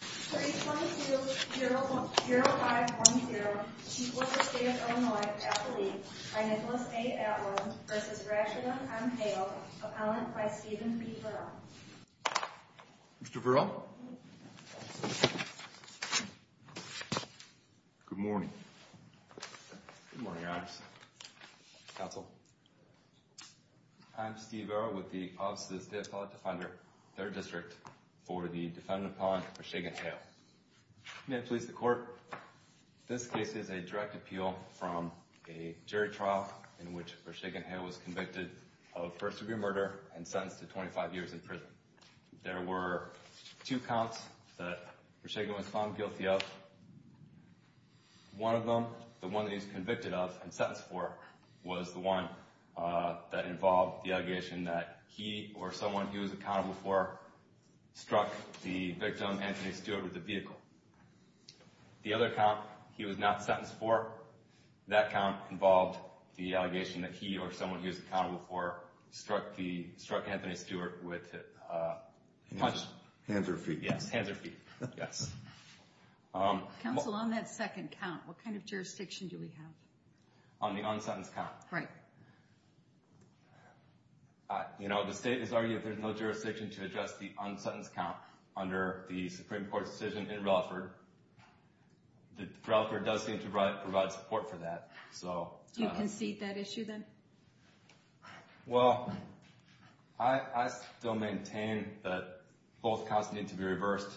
32-0-5-1-0 Chief Officer of the State of Illinois at the League by Nicholas A. Atwin v. Rashidon M. Hale Appellant by Stephen B. Verrill Mr. Verrill Good morning Good morning, Your Honor Counsel I'm Steve Verrill with the Office of the State Appellate Defender, 3rd District, for the defendant appellant Rashidon Hale May it please the Court This case is a direct appeal from a jury trial in which Rashidon Hale was convicted of first degree murder and sentenced to 25 years in prison There were two counts that Rashidon was found guilty of One of them, the one that he was convicted of and sentenced for, was the one that involved the allegation that he or someone he was accountable for struck the victim, Anthony Stewart, with a vehicle The other count, he was not sentenced for, that count involved the allegation that he or someone he was accountable for struck Anthony Stewart with a punch Hands or feet Yes, hands or feet Yes Counsel, on that second count, what kind of jurisdiction do we have? On the unsentenced count Right You know, the State has argued that there is no jurisdiction to address the unsentenced count under the Supreme Court's decision in Relaford Relaford does seem to provide support for that Do you concede that issue then? Well, I still maintain that both counts need to be reversed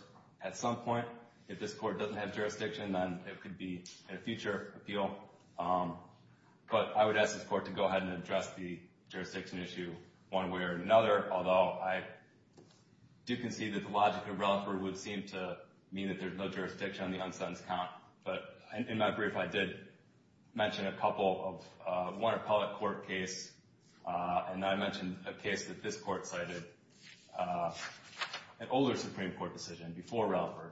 at some point If this Court doesn't have jurisdiction, then it could be in a future appeal But I would ask this Court to go ahead and address the jurisdiction issue one way or another Although, I do concede that the logic of Relaford would seem to mean that there's no jurisdiction on the unsentenced count But in my brief, I did mention a couple of one appellate court case And I mentioned a case that this Court cited, an older Supreme Court decision before Relaford,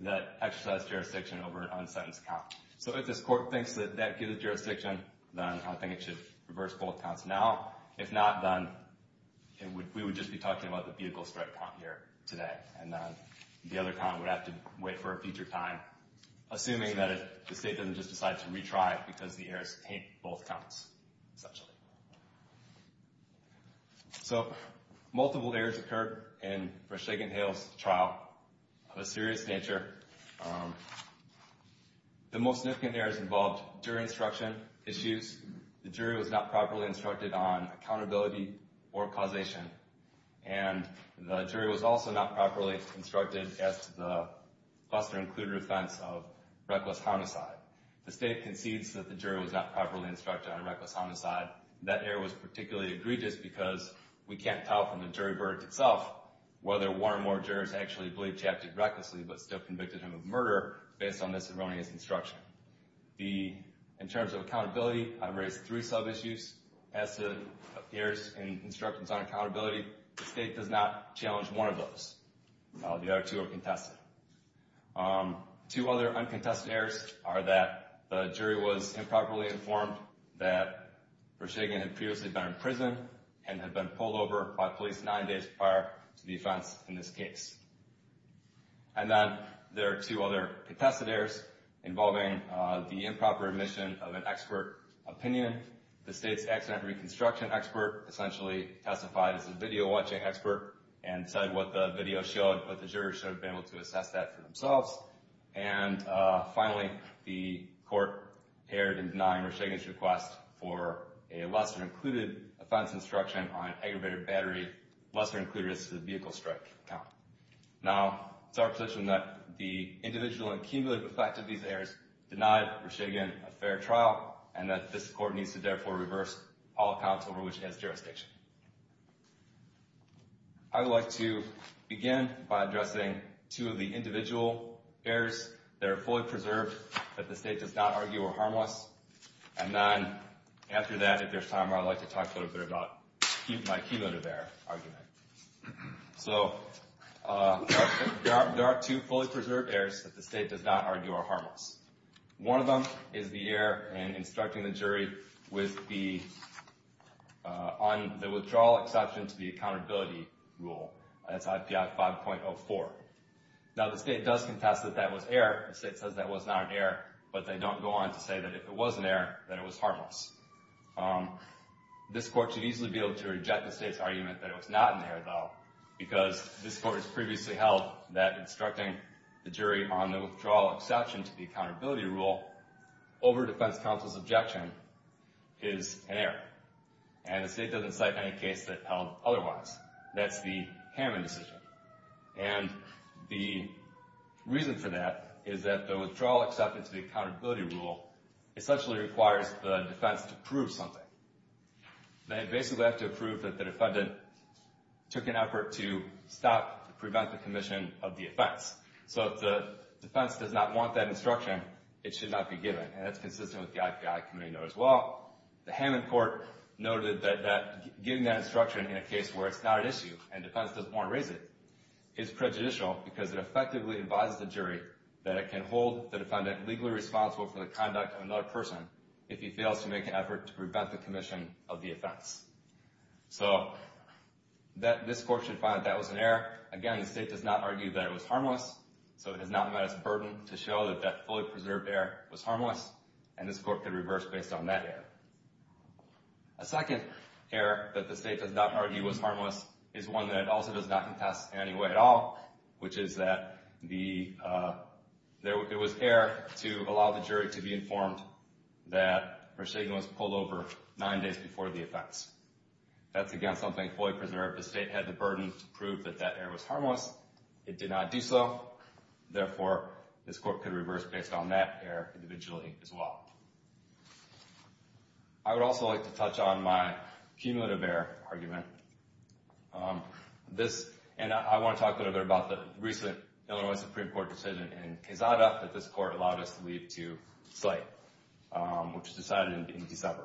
that exercised jurisdiction over an unsentenced count So if this Court thinks that that gives it jurisdiction, then I think it should reverse both counts now If not, then we would just be talking about the vehicle strike count here today And then the other count would have to wait for a future time Assuming that the State doesn't just decide to retry because the errors taint both counts, essentially So, multiple errors occurred in Brashegan Hill's trial of a serious nature The most significant errors involved jury instruction issues The jury was not properly instructed on accountability or causation And the jury was also not properly instructed as to the cluster-included offense of reckless homicide The State concedes that the jury was not properly instructed on reckless homicide That error was particularly egregious because we can't tell from the jury verdict itself Whether one or more jurors actually believed Chap did recklessly but still convicted him of murder based on this erroneous instruction In terms of accountability, I've raised three sub-issues as to errors in instructions on accountability The State does not challenge one of those The other two are contested Two other uncontested errors are that the jury was improperly informed that Brashegan had previously been imprisoned And had been pulled over by police nine days prior to the offense in this case And then there are two other contested errors involving the improper admission of an expert opinion The State's accident reconstruction expert essentially testified as a video-watching expert And said what the video showed, but the jurors should have been able to assess that for themselves And finally, the court erred in denying Brashegan's request for a cluster-included offense instruction on aggravated battery Cluster-included as to the vehicle strike count Now, it's our position that the individual and cumulative effect of these errors denied Brashegan a fair trial And that this court needs to therefore reverse all accounts over which it has jurisdiction I would like to begin by addressing two of the individual errors that are fully preserved that the State does not argue are harmless And then, after that, if there's time, I'd like to talk a little bit about my cumulative error argument So, there are two fully preserved errors that the State does not argue are harmless One of them is the error in instructing the jury on the withdrawal exception to the accountability rule That's IPI 5.04 Now, the State does contest that that was error The State says that was not an error, but they don't go on to say that if it was an error, that it was harmless This court should easily be able to reject the State's argument that it was not an error, though Because this court has previously held that instructing the jury on the withdrawal exception to the accountability rule Over defense counsel's objection is an error And the State doesn't cite any case that held otherwise That's the Hammond decision And the reason for that is that the withdrawal exception to the accountability rule Essentially requires the defense to prove something They basically have to prove that the defendant took an effort to stop, prevent the commission of the offense So, if the defense does not want that instruction, it should not be given And that's consistent with the IPI committee note as well The Hammond court noted that giving that instruction in a case where it's not an issue And the defense doesn't want to raise it Is prejudicial because it effectively advises the jury That it can hold the defendant legally responsible for the conduct of another person If he fails to make an effort to prevent the commission of the offense So, this court should find that that was an error Again, the State does not argue that it was harmless So it has not met its burden to show that that fully preserved error was harmless And this court could reverse based on that error A second error that the State does not argue was harmless Is one that also does not contest in any way at all Which is that it was error to allow the jury to be informed That Roshagan was pulled over nine days before the offense That's again something fully preserved The State had the burden to prove that that error was harmless It did not do so Therefore, this court could reverse based on that error individually as well I would also like to touch on my cumulative error argument And I want to talk a little bit about the recent Illinois Supreme Court decision in Quezada That this court allowed us to leave to cite Which was decided in December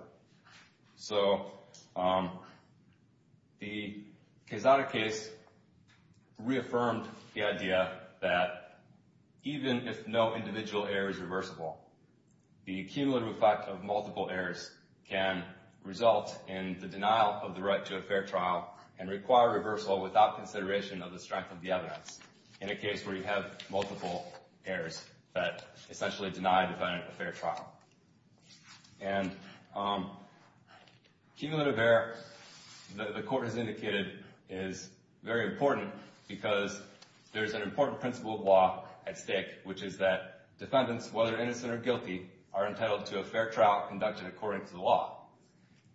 So, the Quezada case reaffirmed the idea that Even if no individual error is reversible The cumulative effect of multiple errors can result in the denial of the right to a fair trial And require reversal without consideration of the strength of the evidence In a case where you have multiple errors that essentially deny the defendant a fair trial And cumulative error, the court has indicated, is very important Because there's an important principle of law at stake Which is that defendants, whether innocent or guilty Are entitled to a fair trial conduction according to the law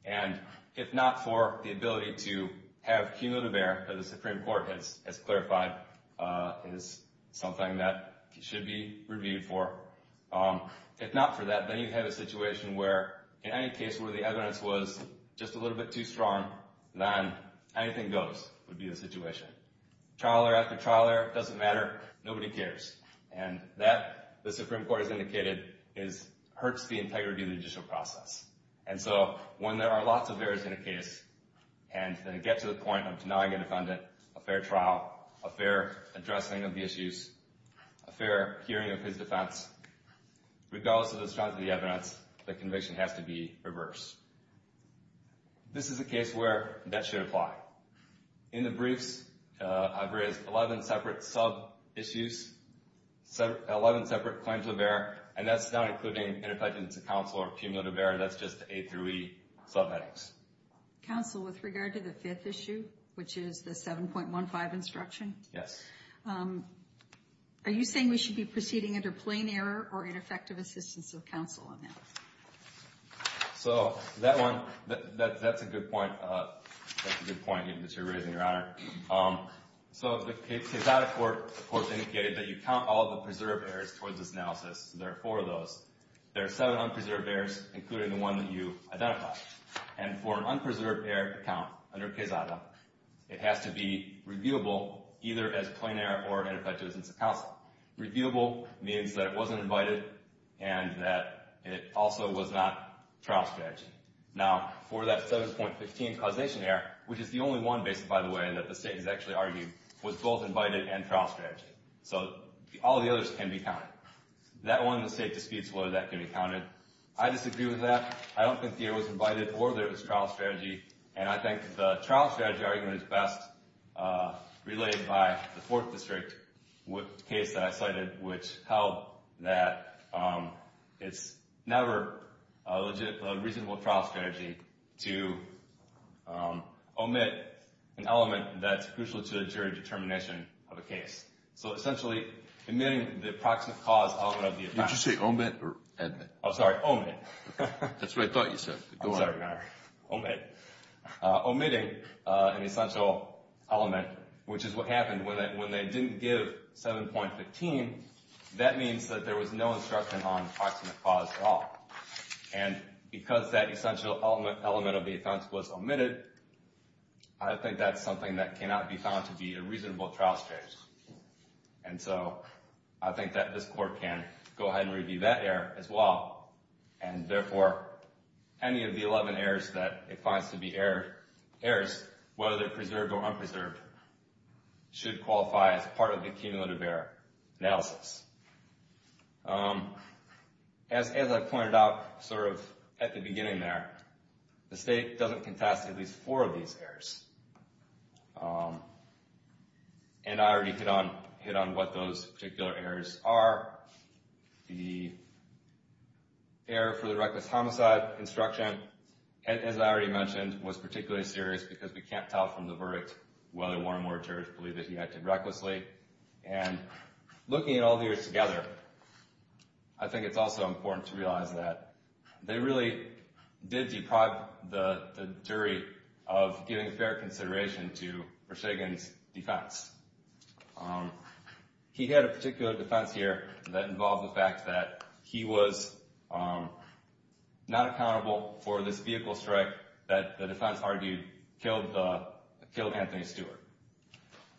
And if not for the ability to have cumulative error That the Supreme Court has clarified It is something that should be reviewed for If not for that, then you have a situation where In any case where the evidence was just a little bit too strong Then anything goes would be the situation Trial error after trial error, it doesn't matter, nobody cares And that, the Supreme Court has indicated, hurts the integrity of the judicial process And so, when there are lots of errors in a case And they get to the point of denying a defendant a fair trial A fair addressing of the issues, a fair hearing of his defense Regardless of the strength of the evidence, the conviction has to be reversed This is a case where that should apply In the briefs, I've raised 11 separate sub-issues 11 separate claims of error And that's not including interference of counsel or cumulative error That's just the A through E sub-headings Counsel, with regard to the fifth issue, which is the 7.15 instruction Yes Are you saying we should be proceeding under plain error Or ineffective assistance of counsel on that? So, that one, that's a good point That's a good point that you're raising, Your Honor So, the case out of court, the court indicated That you count all the preserved errors towards this analysis There are four of those There are seven unpreserved errors, including the one that you identified And for an unpreserved error to count under Quesada It has to be reviewable either as plain error or ineffective assistance of counsel Reviewable means that it wasn't invited And that it also was not trial strategy Now, for that 7.15 causation error Which is the only one, basically, by the way, that the state has actually argued Was both invited and trial strategy So, all the others can be counted That one, the state disputes whether that can be counted I disagree with that I don't think the error was invited or that it was trial strategy And I think the trial strategy argument is best Relayed by the fourth district case that I cited Which held that it's never a reasonable trial strategy To omit an element that's crucial to the jury determination of a case So, essentially, omitting the proximate cause element of the offense Did you say omit or admit? I'm sorry, omit That's what I thought you said I'm sorry, my error Omit Omitting an essential element Which is what happened when they didn't give 7.15 That means that there was no instruction on proximate cause at all And because that essential element of the offense was omitted I think that's something that cannot be found to be a reasonable trial strategy And so, I think that this court can go ahead and review that error as well And therefore, any of the 11 errors that it finds to be errors Whether they're preserved or unpreserved Should qualify as part of the cumulative error analysis As I pointed out sort of at the beginning there The state doesn't contest at least four of these errors And I already hit on what those particular errors are The error for the reckless homicide instruction As I already mentioned, was particularly serious Because we can't tell from the verdict Whether Warren Ward Church believed that he acted recklessly And looking at all the errors together I think it's also important to realize that They really did deprive the jury of giving fair consideration To Rashegan's defense He had a particular defense here that involved the fact that He was not accountable for this vehicle strike That the defense argued killed Anthony Stewart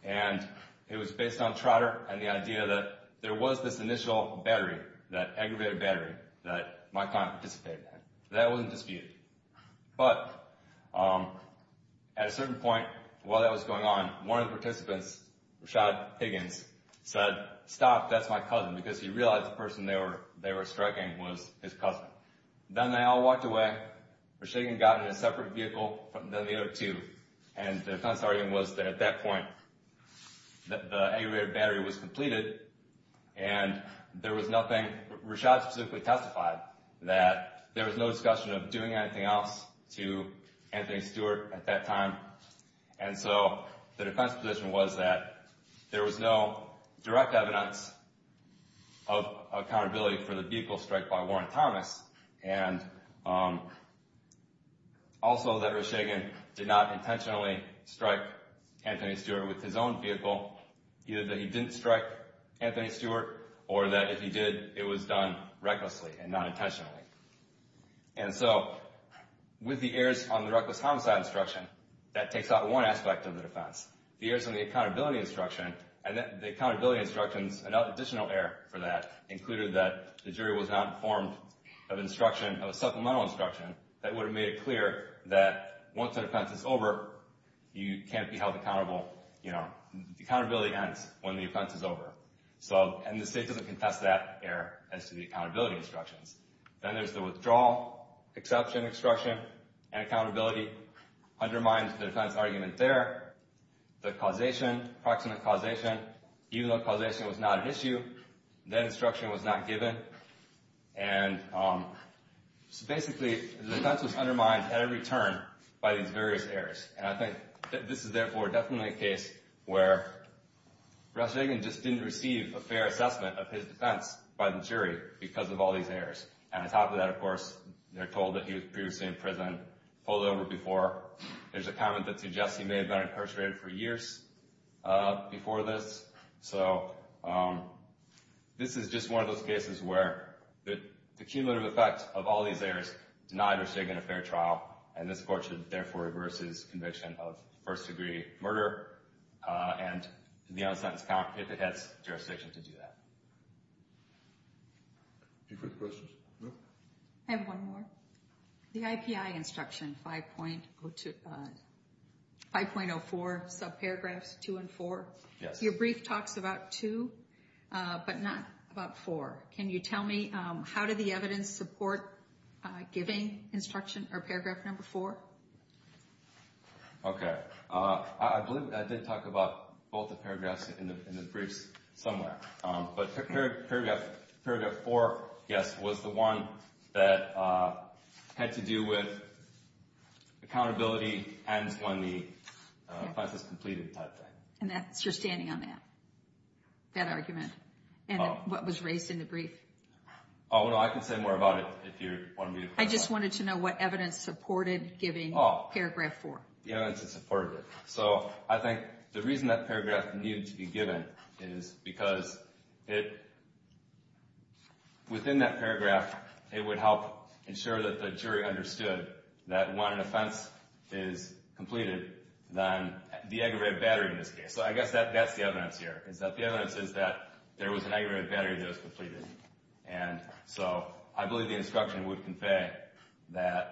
And it was based on trotter and the idea that There was this initial battery, that aggravated battery That Mike Hunt participated in That wasn't disputed But at a certain point while that was going on One of the participants, Rashad Higgins, said Stop, that's my cousin Because he realized the person they were striking was his cousin Then they all walked away Rashegan got in a separate vehicle from the other two And the defense argument was that at that point The aggravated battery was completed And there was nothing, Rashad specifically testified That there was no discussion of doing anything else To Anthony Stewart at that time And so the defense position was that There was no direct evidence of accountability For the vehicle strike by Warren Thomas And also that Rashegan did not intentionally Strike Anthony Stewart with his own vehicle Either that he didn't strike Anthony Stewart Or that if he did, it was done recklessly And not intentionally And so, with the errors on the reckless homicide instruction That takes out one aspect of the defense The errors on the accountability instruction And the accountability instructions, an additional error for that Included that the jury was not informed of instruction Of supplemental instruction That would have made it clear that once the defense is over You can't be held accountable The accountability ends when the offense is over And the state doesn't contest that error As to the accountability instructions Then there's the withdrawal, exception instruction And accountability undermines the defense argument there The causation, proximate causation Even though causation was not an issue That instruction was not given So basically, the defense was undermined at every turn By these various errors And I think this is therefore definitely a case Where Rashegan just didn't receive a fair assessment Of his defense by the jury Because of all these errors And on top of that, of course They're told that he was previously in prison Pulled over before There's a comment that suggests he may have been incarcerated for years Before this So, this is just one of those cases where The cumulative effect of all these errors Denied Rashegan a fair trial And this court should therefore reverse his conviction Of first-degree murder And the unsentence count If it has jurisdiction to do that Any further questions? I have one more The IPI instruction 5.04 Subparagraphs 2 and 4 Your brief talks about 2 But not about 4 Can you tell me How did the evidence support giving instruction Or paragraph number 4? Okay I believe I did talk about both the paragraphs In the briefs somewhere But paragraph 4, yes Was the one that had to do with Accountability ends when the offense is completed type thing And that's your standing on that That argument And what was raised in the brief Oh no, I can say more about it If you want me to I just wanted to know what evidence supported Giving paragraph 4 The evidence that supported it So, I think the reason that paragraph needed to be given Is because it Within that paragraph It would help ensure that the jury understood That when an offense is completed Then the aggravated battery in this case So I guess that's the evidence here Is that the evidence is that There was an aggravated battery that was completed And so I believe the instruction would convey That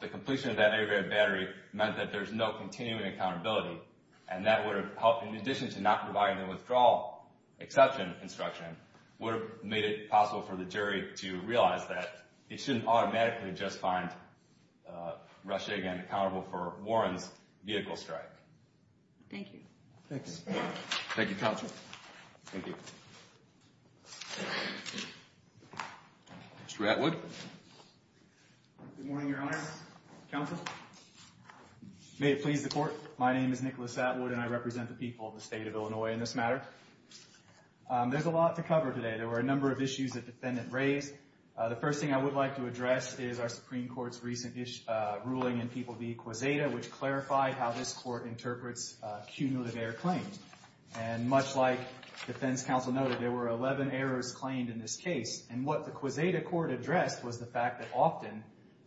the completion of that aggravated battery Meant that there's no continuing accountability And that would have helped In addition to not providing the withdrawal exception instruction Would have made it possible for the jury to realize that It shouldn't automatically just find Rashegan accountable for Warren's vehicle strike Thank you Thank you Thank you, counsel Thank you Mr. Atwood Good morning, your honor Counsel May it please the court My name is Nicholas Atwood And I represent the people of the state of Illinois In this matter There's a lot to cover today There were a number of issues that the defendant raised The first thing I would like to address Is our Supreme Court's recent ruling in People v. Quesada Which clarified how this court interprets cumulative error claims And much like defense counsel noted There were 11 errors claimed in this case And what the Quesada court addressed Was the fact that often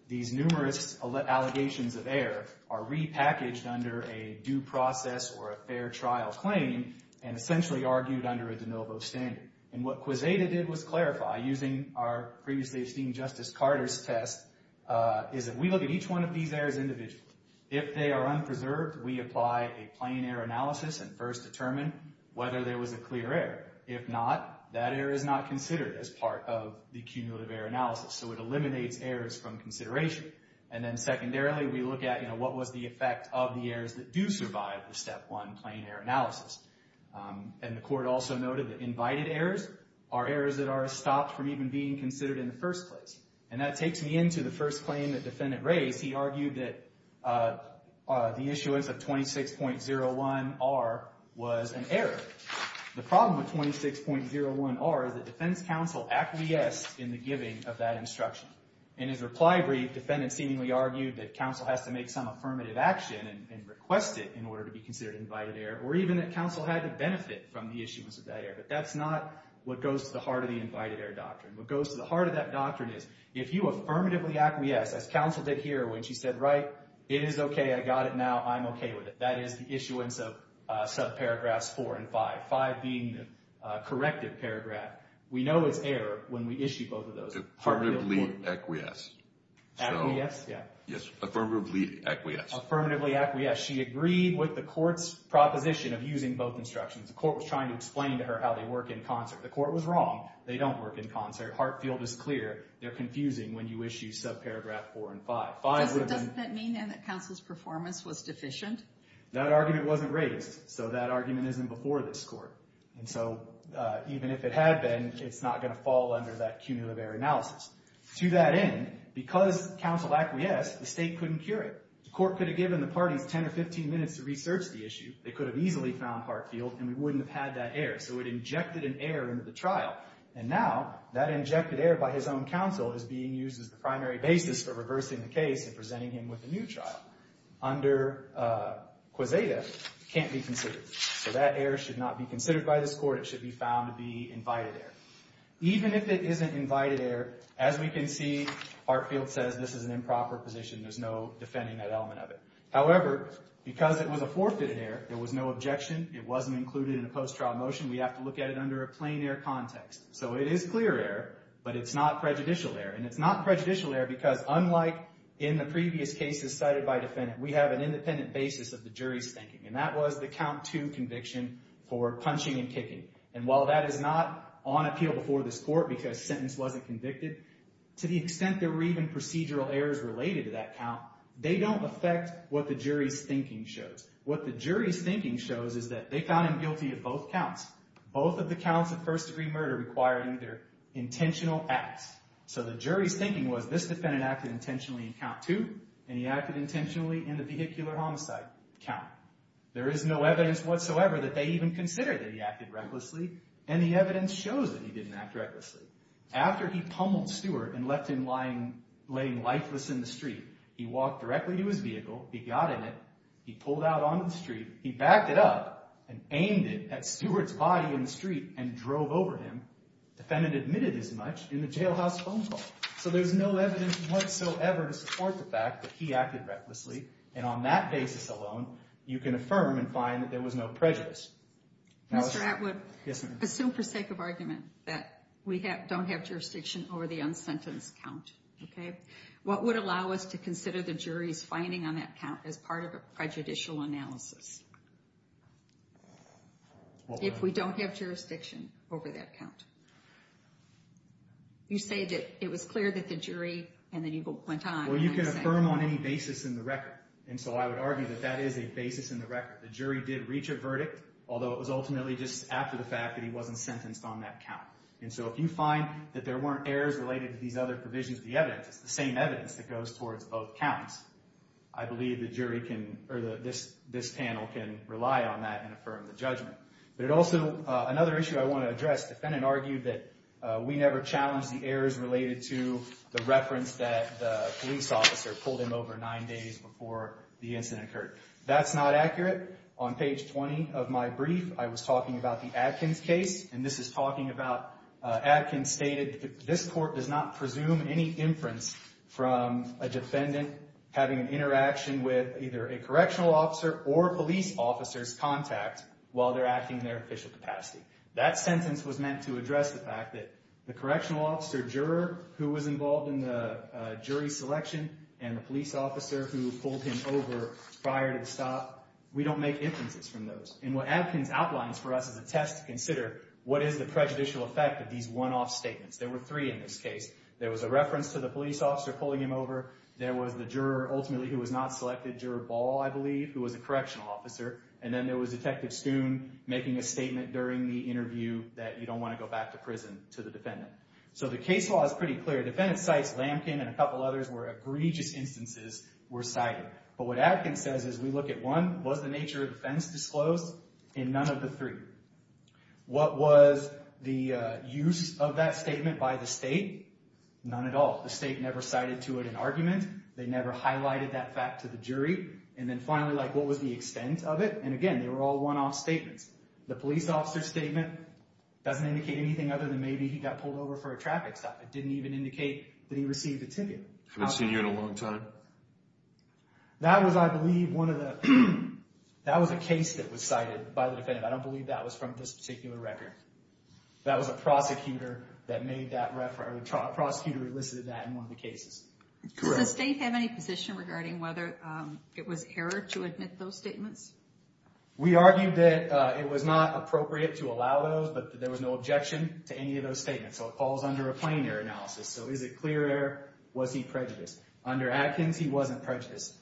These numerous allegations of error Are repackaged under a due process or a fair trial claim And essentially argued under a de novo standard And what Quesada did was clarify Using our previously esteemed Justice Carter's test Is that we look at each one of these errors individually If they are unpreserved We apply a plain error analysis And first determine whether there was a clear error If not, that error is not considered As part of the cumulative error analysis So it eliminates errors from consideration And then secondarily we look at You know, what was the effect of the errors That do survive the step one plain error analysis And the court also noted that invited errors Are errors that are stopped from even being considered In the first place And that takes me into the first claim the defendant raised He argued that the issuance of 26.01R Was an error The problem with 26.01R Is that defense counsel acquiesced In the giving of that instruction In his reply brief, defendant seemingly argued That counsel has to make some affirmative action And request it in order to be considered invited error Or even that counsel had to benefit From the issuance of that error But that's not what goes to the heart Of the invited error doctrine What goes to the heart of that doctrine is If you affirmatively acquiesce As counsel did here when she said Right, it is okay, I got it now, I'm okay with it That is the issuance of subparagraphs 4 and 5 5 being the corrective paragraph We know it's error when we issue both of those Affirmatively acquiesce Affirmatively acquiesce, yeah Affirmatively acquiesce Affirmatively acquiesce She agreed with the court's proposition Of using both instructions The court was trying to explain to her How they work in concert The court was wrong They don't work in concert Hartfield is clear They're confusing when you issue subparagraph 4 and 5 Doesn't that mean then That counsel's performance was deficient? That argument wasn't raised So that argument isn't before this court And so even if it had been It's not going to fall under that cumulative error analysis To that end, because counsel acquiesced The state couldn't cure it The court could have given the parties 10 or 15 minutes to research the issue They could have easily found Hartfield And we wouldn't have had that error So it injected an error into the trial And now that injected error by his own counsel Is being used as the primary basis For reversing the case And presenting him with a new trial Under quesada Can't be considered So that error should not be considered by this court It should be found to be invited error Even if it isn't invited error As we can see Hartfield says this is an improper position There's no defending that element of it However, because it was a forfeited error There was no objection It wasn't included in a post-trial motion We have to look at it under a plain error context So it is clear error But it's not prejudicial error And it's not prejudicial error Because unlike in the previous cases Cited by defendant We have an independent basis of the jury's thinking And that was the count two conviction For punching and kicking And while that is not on appeal before this court Because sentence wasn't convicted To the extent there were even procedural errors Related to that count They don't affect what the jury's thinking shows What the jury's thinking shows Is that they found him guilty of both counts Both of the counts of first degree murder Required either intentional acts So the jury's thinking was This defendant acted intentionally in count two And he acted intentionally in the vehicular homicide count There is no evidence whatsoever That they even consider that he acted recklessly And the evidence shows that he didn't act recklessly After he pummeled Stewart And left him laying lifeless in the street He walked directly to his vehicle He got in it He pulled out onto the street He backed it up And aimed it at Stewart's body in the street And drove over him Defendant admitted as much In the jailhouse phone call So there's no evidence whatsoever To support the fact that he acted recklessly And on that basis alone You can affirm and find that there was no prejudice Mr. Atwood Yes ma'am Assume for sake of argument That we don't have jurisdiction Over the unsentenced count Okay What would allow us to consider The jury's finding on that count As part of a prejudicial analysis? If we don't have jurisdiction over that count You say that it was clear that the jury And then you went on Well you can affirm on any basis in the record And so I would argue That that is a basis in the record The jury did reach a verdict Although it was ultimately just after the fact That he wasn't sentenced on that count And so if you find That there weren't errors Related to these other provisions of the evidence It's the same evidence That goes towards both counts I believe the jury can Or this panel can rely on that And affirm the judgment But it also Another issue I want to address The defendant argued that We never challenged the errors Related to the reference That the police officer pulled in over nine days Before the incident occurred That's not accurate On page 20 of my brief I was talking about the Adkins case And this is talking about Adkins stated This court does not presume any inference From a defendant Having an interaction with Either a correctional officer Or a police officer's contact While they're acting In their official capacity That sentence was meant To address the fact that The correctional officer, juror Who was involved in the jury selection And the police officer Who pulled him over prior to the stop We don't make inferences from those And what Adkins outlines for us Is a test to consider What is the prejudicial effect Of these one-off statements There were three in this case There was a reference to the police officer Pulling him over There was the juror Ultimately who was not selected Juror Ball, I believe Who was a correctional officer And then there was Detective Stoon Making a statement during the interview That you don't want to go back to prison To the defendant So the case law is pretty clear Defendant cites Lamkin And a couple others Where egregious instances were cited But what Adkins says is We look at one Was the nature of defense disclosed In none of the three What was the use of that statement By the state None at all The state never cited to it an argument They never highlighted that fact to the jury And then finally What was the extent of it And again They were all one-off statements The police officer statement Doesn't indicate anything Other than maybe he got pulled over For a traffic stop It didn't even indicate That he received a ticket I haven't seen you in a long time That was I believe One of the That was a case that was cited By the defendant I don't believe that was from This particular record That was a prosecutor That made that Prosecutor elicited that In one of the cases Does the state have any position Regarding whether it was error To admit those statements We argued that It was not appropriate To allow those But there was no objection To any of those statements So it falls under A plain error analysis So is it clear error Was he prejudiced Under Adkins He wasn't prejudiced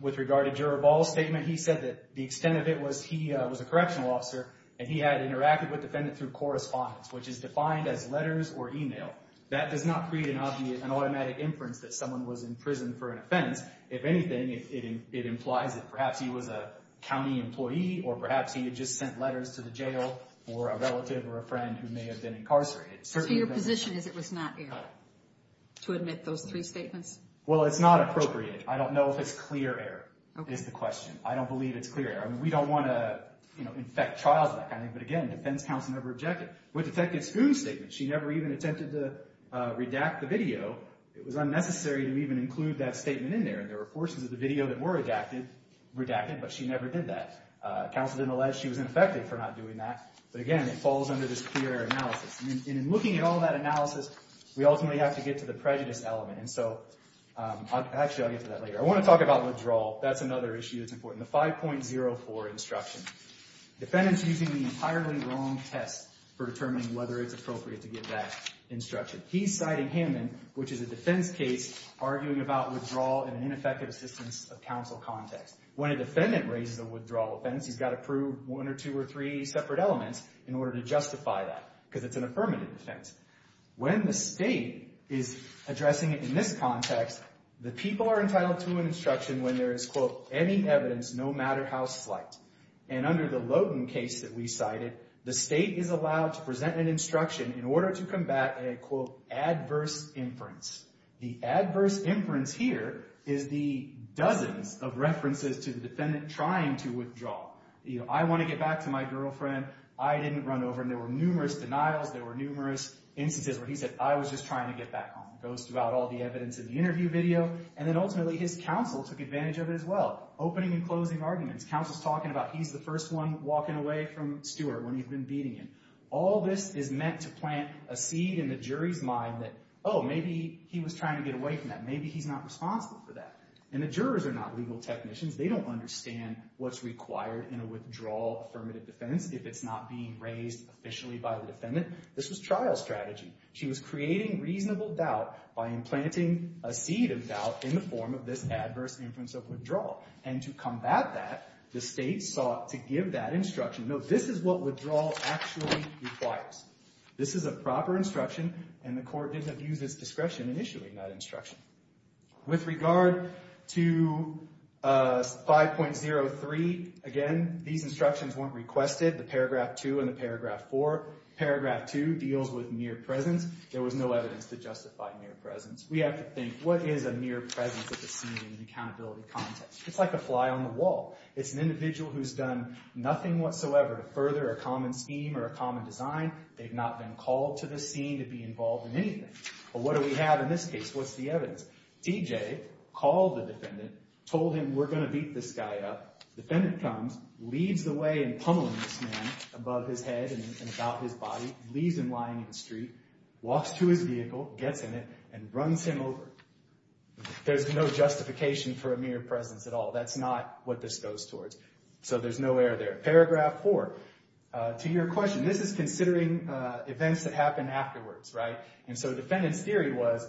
With regard to Juror Ball's statement He said that The extent of it was He was a correctional officer And he had interacted With the defendant Through correspondence Which is defined as Letters or email That does not create An automatic inference That someone was In prison for an offense If anything It implies that Perhaps he was A county employee Or perhaps he had Just sent letters To the jail For a relative Or a friend Who may have been incarcerated So your position Is it was not error To admit those Three statements Well it's not appropriate I don't know if it's Clear error Is the question I don't believe it's clear error We don't want to You know Infect trials That kind of thing But again The defense counsel Never objected With Detective Spoon's statement She never even attempted To redact the video It was unnecessary To even include That statement in there And there were forces Of the video That were redacted But she never did that Counsel didn't allege She was ineffective For not doing that But again It falls under This clear error analysis And in looking at All that analysis We ultimately have to get To the prejudice element And so Actually I'll get to that later I want to talk about withdrawal That's another issue That's important The 5.04 instruction Defendant's using The entirely wrong test For determining Whether it's appropriate To give that instruction He's citing Hammond Which is a defense case Arguing about withdrawal And an ineffective Assistance of counsel Context When a defendant Raises a withdrawal offense He's got to prove One or two or three Separate elements In order to justify that Because it's an Affirmative defense When the state Is addressing it In this context The people are entitled To an instruction When there is Quote Any evidence No matter how slight And under the Logan case That we cited The state is allowed To present an instruction In order to combat A quote Adverse inference The adverse inference Here Is the Dozens of references To the defendant Trying to withdraw You know I want to get back To my girlfriend I didn't run over And there were Numerous denials There were numerous Instances where he said I was just trying To get back home It goes throughout All the evidence In the interview video And then ultimately His counsel Took advantage of it as well Opening and closing arguments Counsel's talking about He's the first one Walking away from Stewart When he'd been beating him All this is meant To plant a seed In the jury's mind That oh maybe He was trying To get away from that Maybe he's not Responsible for that And the jurors Are not legal technicians They don't understand What's required In a withdrawal Affirmative defense If it's not being Raised officially By the defendant This was trial strategy She was creating Reasonable doubt By implanting A seed of doubt In the form of this Adverse inference Of withdrawal And to combat that The state sought To give that instruction No this is what withdrawal Actually requires This is a proper instruction And the court Didn't have used This discretion Initially in that instruction With regard To 5.03 Again These instructions Weren't requested The paragraph 2 And the paragraph 4 Paragraph 2 Deals with near presence There was no evidence To justify near presence We have to think What is a near presence At the scene In an accountability context It's like a fly on the wall It's an individual Who's done Nothing whatsoever To further A common scheme Or a common design They've not been called To the scene To be involved In anything But what do we have In this case What's the evidence D.J. Called the defendant Told him We're going to beat This guy up Defendant comes Leads the way In pummeling this man Above his head And about his body Leaves him lying In the street Walks to his vehicle Gets in it And runs him over There's no justification For a near presence at all That's not What this goes towards So there's no error there Paragraph 4 To your question This is considering Events that happen Afterwards right And so The defendant's theory was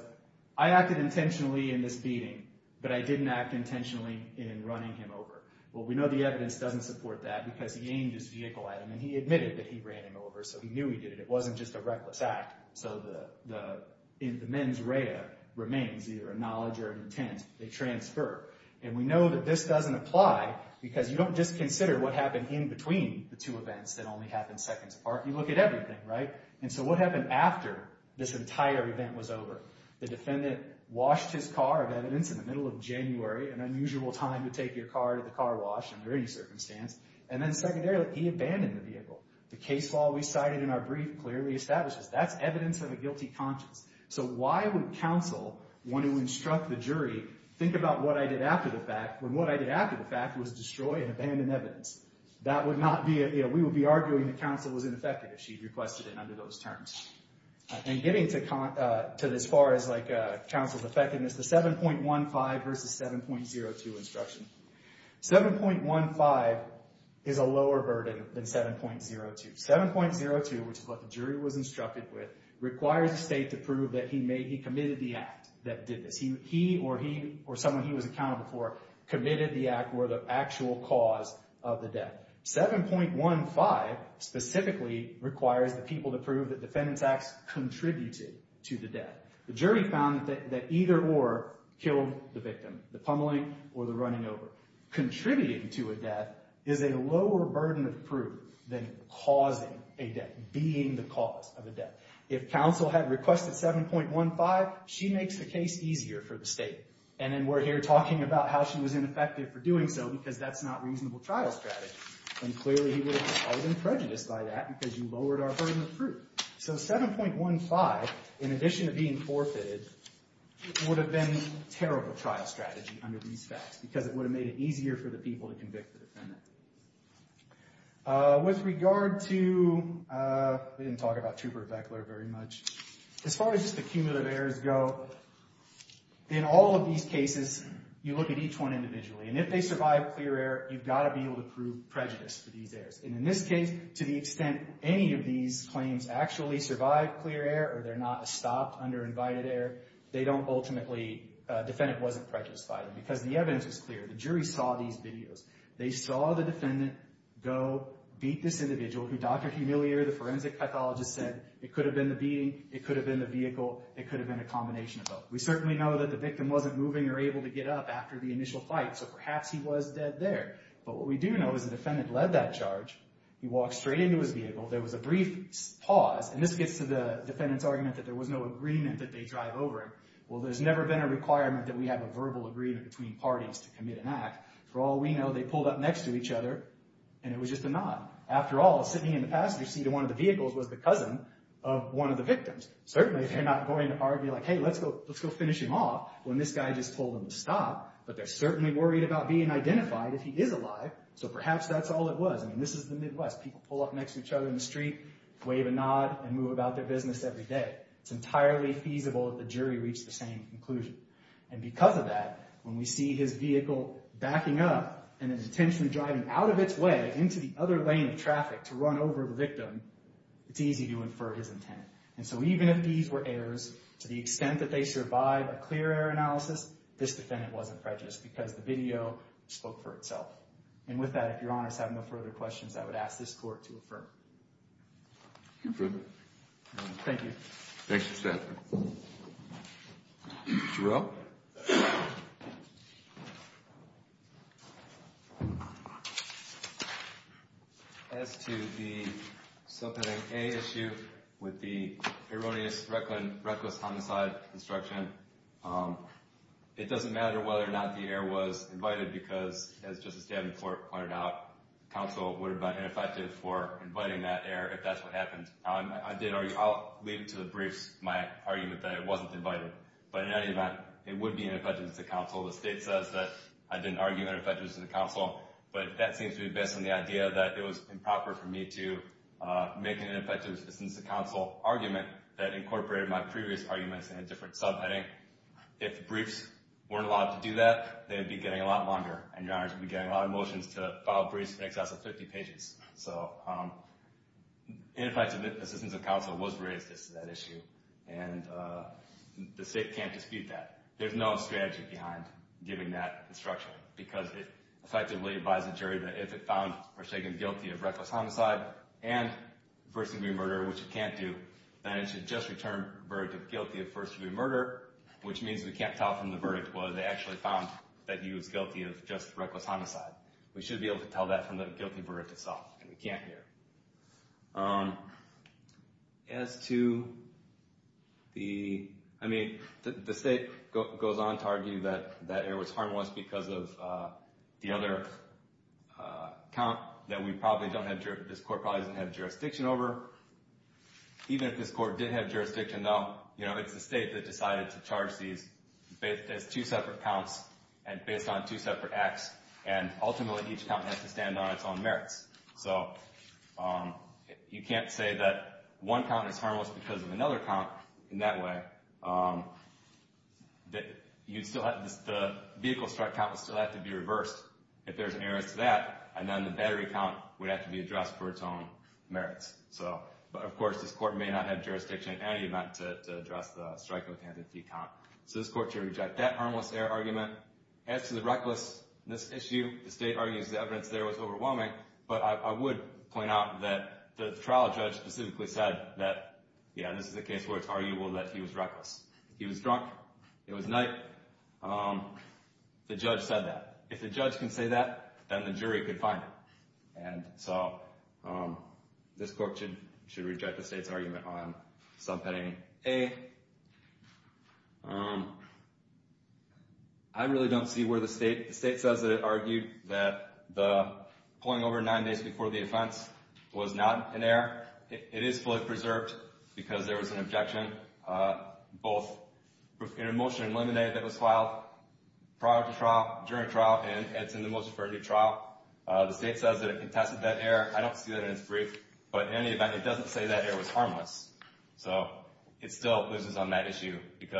I acted intentionally In this beating But I didn't act Intentionally In running him over Well we know The evidence doesn't support that Because he aimed his vehicle At him And he admitted That he ran him over So he knew he did it It wasn't just a reckless act So the The mens rea Remains Either a knowledge Or an intent They transfer And we know That this doesn't apply Because you don't just consider What happened in between The two events That only happen Seconds apart You look at everything right And so what happened After This entire event Was over The defendant Washed his car Of evidence In the middle of January An unusual time To take your car To the car wash Under any circumstance And then secondarily He abandoned the vehicle The case law we cited In our brief Clearly establishes That's evidence Of a guilty conscience So why would counsel Want to instruct the jury Think about what I did After the fact When what I did After the fact Was destroy And abandon evidence That would not be You know We would be arguing That counsel was ineffective If she requested it Under those terms And getting to As far as like Counsel's effectiveness The 7.15 Versus 7.02 instruction 7.15 Is a lower burden Than 7.02 7.02 Which is what the jury Was instructed with Requires the state To prove that he Committed the act That did this He or he Or someone he was Accountable for Committed the act Or the actual cause Of the death 7.15 Requires the state Specifically Requires the people To prove that Defendant's acts Contributed to the death The jury found That either or Killed the victim The pummeling Or the running over Contributing to a death Is a lower burden Of proof Than causing a death Being the cause Of a death If counsel had Requested 7.15 She makes the case Easier for the state And then we're here Talking about how She was ineffective For doing so Because that's not Reasonable trial strategy Then clearly He would have Caused him prejudice By that Because you lowered Our burden of proof So 7.15 In addition to being Forfeited Would have been Terrible trial strategy Under these facts Because it would have Made it easier for the People to convict the Defendant With regard to We didn't talk about Trooper and Beckler Very much As far as Just the cumulative errors Go In all of these cases You look at each one Individually And if they survive Clear error You've got to be able To prove prejudice For these errors And in this case To the extent Any of these claims Actually survive Clear error Or they're not Stopped under Invited error They don't ultimately Defendant wasn't Prejudiced by them Because the evidence Was clear The jury saw These videos They saw the defendant Go Beat this individual Who Dr. Humilier The forensic pathologist Said It could have been The beating It could have been The vehicle It could have been A combination of both We certainly know That the victim Wasn't moving Or able to get up After the initial fight So perhaps he was Dead there But what we do know Is the defendant Led that charge He walked straight Into his vehicle There was a brief Pause And this gets to The defendant's argument That there was no agreement That they drive over him Well there's never been A requirement That we have a verbal agreement Between parties To commit an act For all we know They pulled up Next to each other And it was just a nod After all Sitting in the passenger seat Of one of the vehicles Was the cousin Of one of the victims Certainly they're not Going to argue Like hey let's go Finish him off When this guy Just told him to stop But they're certainly Worried about being Identified if he is alive So perhaps that's all it was I mean this is the Midwest People pull up Next to each other In the street Wave a nod And move about Their business every day It's entirely feasible If the jury Reached the same conclusion And because of that When we see his vehicle Backing up And his attention Driving out of its way Into the other lane Of traffic To run over the victim It's easy to infer That this was not A clear error of his intent And so even if these Were errors To the extent That they survive A clear error analysis This defendant Wasn't prejudiced Because the video Spoke for itself And with that If your honors Have no further questions I would ask this court To affirm Thank you Next to Seth Jarrell As to the Subheading A Issue It's a Furtive With the Erroneous Reckless Homicide Instruction It doesn't matter Whether or not The error was Invited because As Justice David Floret Pointed out Counsel Would have been Ineffective for Inviting that Error If that's what Happened I'll leave it To the briefs My argument That it wasn't Invited But in any event It would be Ineffective Assistance Of Counsel The state Says that I didn't argue Ineffective Assistance Of Counsel But that Seems to be Based on the Idea that It was Improper For me to Make an Assistance Of Counsel Argument That incorporated My previous Arguments In a different Subheading If the Briefs Weren't allowed To do that They would be Getting a lot Longer And your Honors would Be getting A lot of motions To file briefs In excess of 50 pages So Ineffective Assistance Of Counsel Was raised As that Issue And the State can't Dispute that There's no Strategy behind Giving that Instruction Because it Effectively Advises the Jury that If it found Or taken Guilty of Reckless Homicide And First Degree Murder Which it can't Do Then it should Just return The verdict of Guilty of First Degree Murder Which means We can't tell From the Verdict Whether they Actually found That he was Guilty of Just Reckless Homicide We should Be able to Tell that From the Guilty Verdict Itself And we can't Here As to The I mean The State Goes on To argue That it was Harmless Because of The other Count That we Probably don't This Court Probably doesn't Have jurisdiction Over Even if this Court did have Jurisdiction Though It's the State that Decided to Charge these As two Separate counts And based On two Separate acts And ultimately Each count Has to stand On its own Merits So You can't Say that One count Is harmless Because of Another count In that way That You still Have The Vehicle Strike Count Still have To be Reversed If there's An error To that And then The battery Count Would have To be Addressed For its Own Merits So But of This Court May not Have Jurisdiction In any Event To address The strike Count So this Court Should reject That Harmless Error Argument As to If Drunk It Was Night The Judge Said That If The Judge Can Say That Then The Could Find It And So This Court Should Reject The State's Argument On Subpending A. I really Don't see Where the State Says That It Argued That The Pulling Over Nine Days Before The Offense Was Not An It Is A Preserved Because There Was An Objection Both In A Motion Eliminated That Was Filed Prior To And It Is In The Most Preferred Area Of Interest And It Is In Preferred Of And It Is In The Most Preferred Area Of Interest And It Most Preferred Area Of Interest And It Is In And It Is In Of But It State Of Interest And It In Context The Prongs Of You Don't Have To Prove All Of The Elements Of Plain Air And The Reason For That Is That If You Did It Would Be No Cumulative Air Review Ever. It's A Matter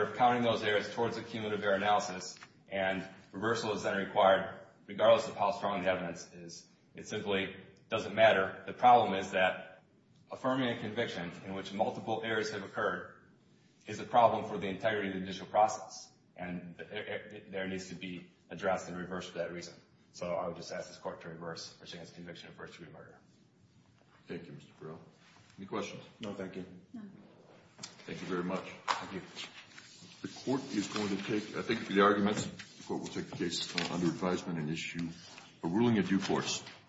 Of Counting Those Areas Towards A Air Analysis And Reversal Is Required Regardless Of How Strong The Is. Simply Doesn't Matter. Problem Is That Affirming A In Which Multiple Areas Have Occurred Is A For The Integrity Of The Initial Process And There Needs To Be Addressed In Reverse For Reason. I Would Just Ask This Court To Reverse The Conviction Of First-Degree Murder. Thank You. Any Questions? No, Thank You. The Court Will Take The Case Under Advisement And Issue A Ruling Of Due Force.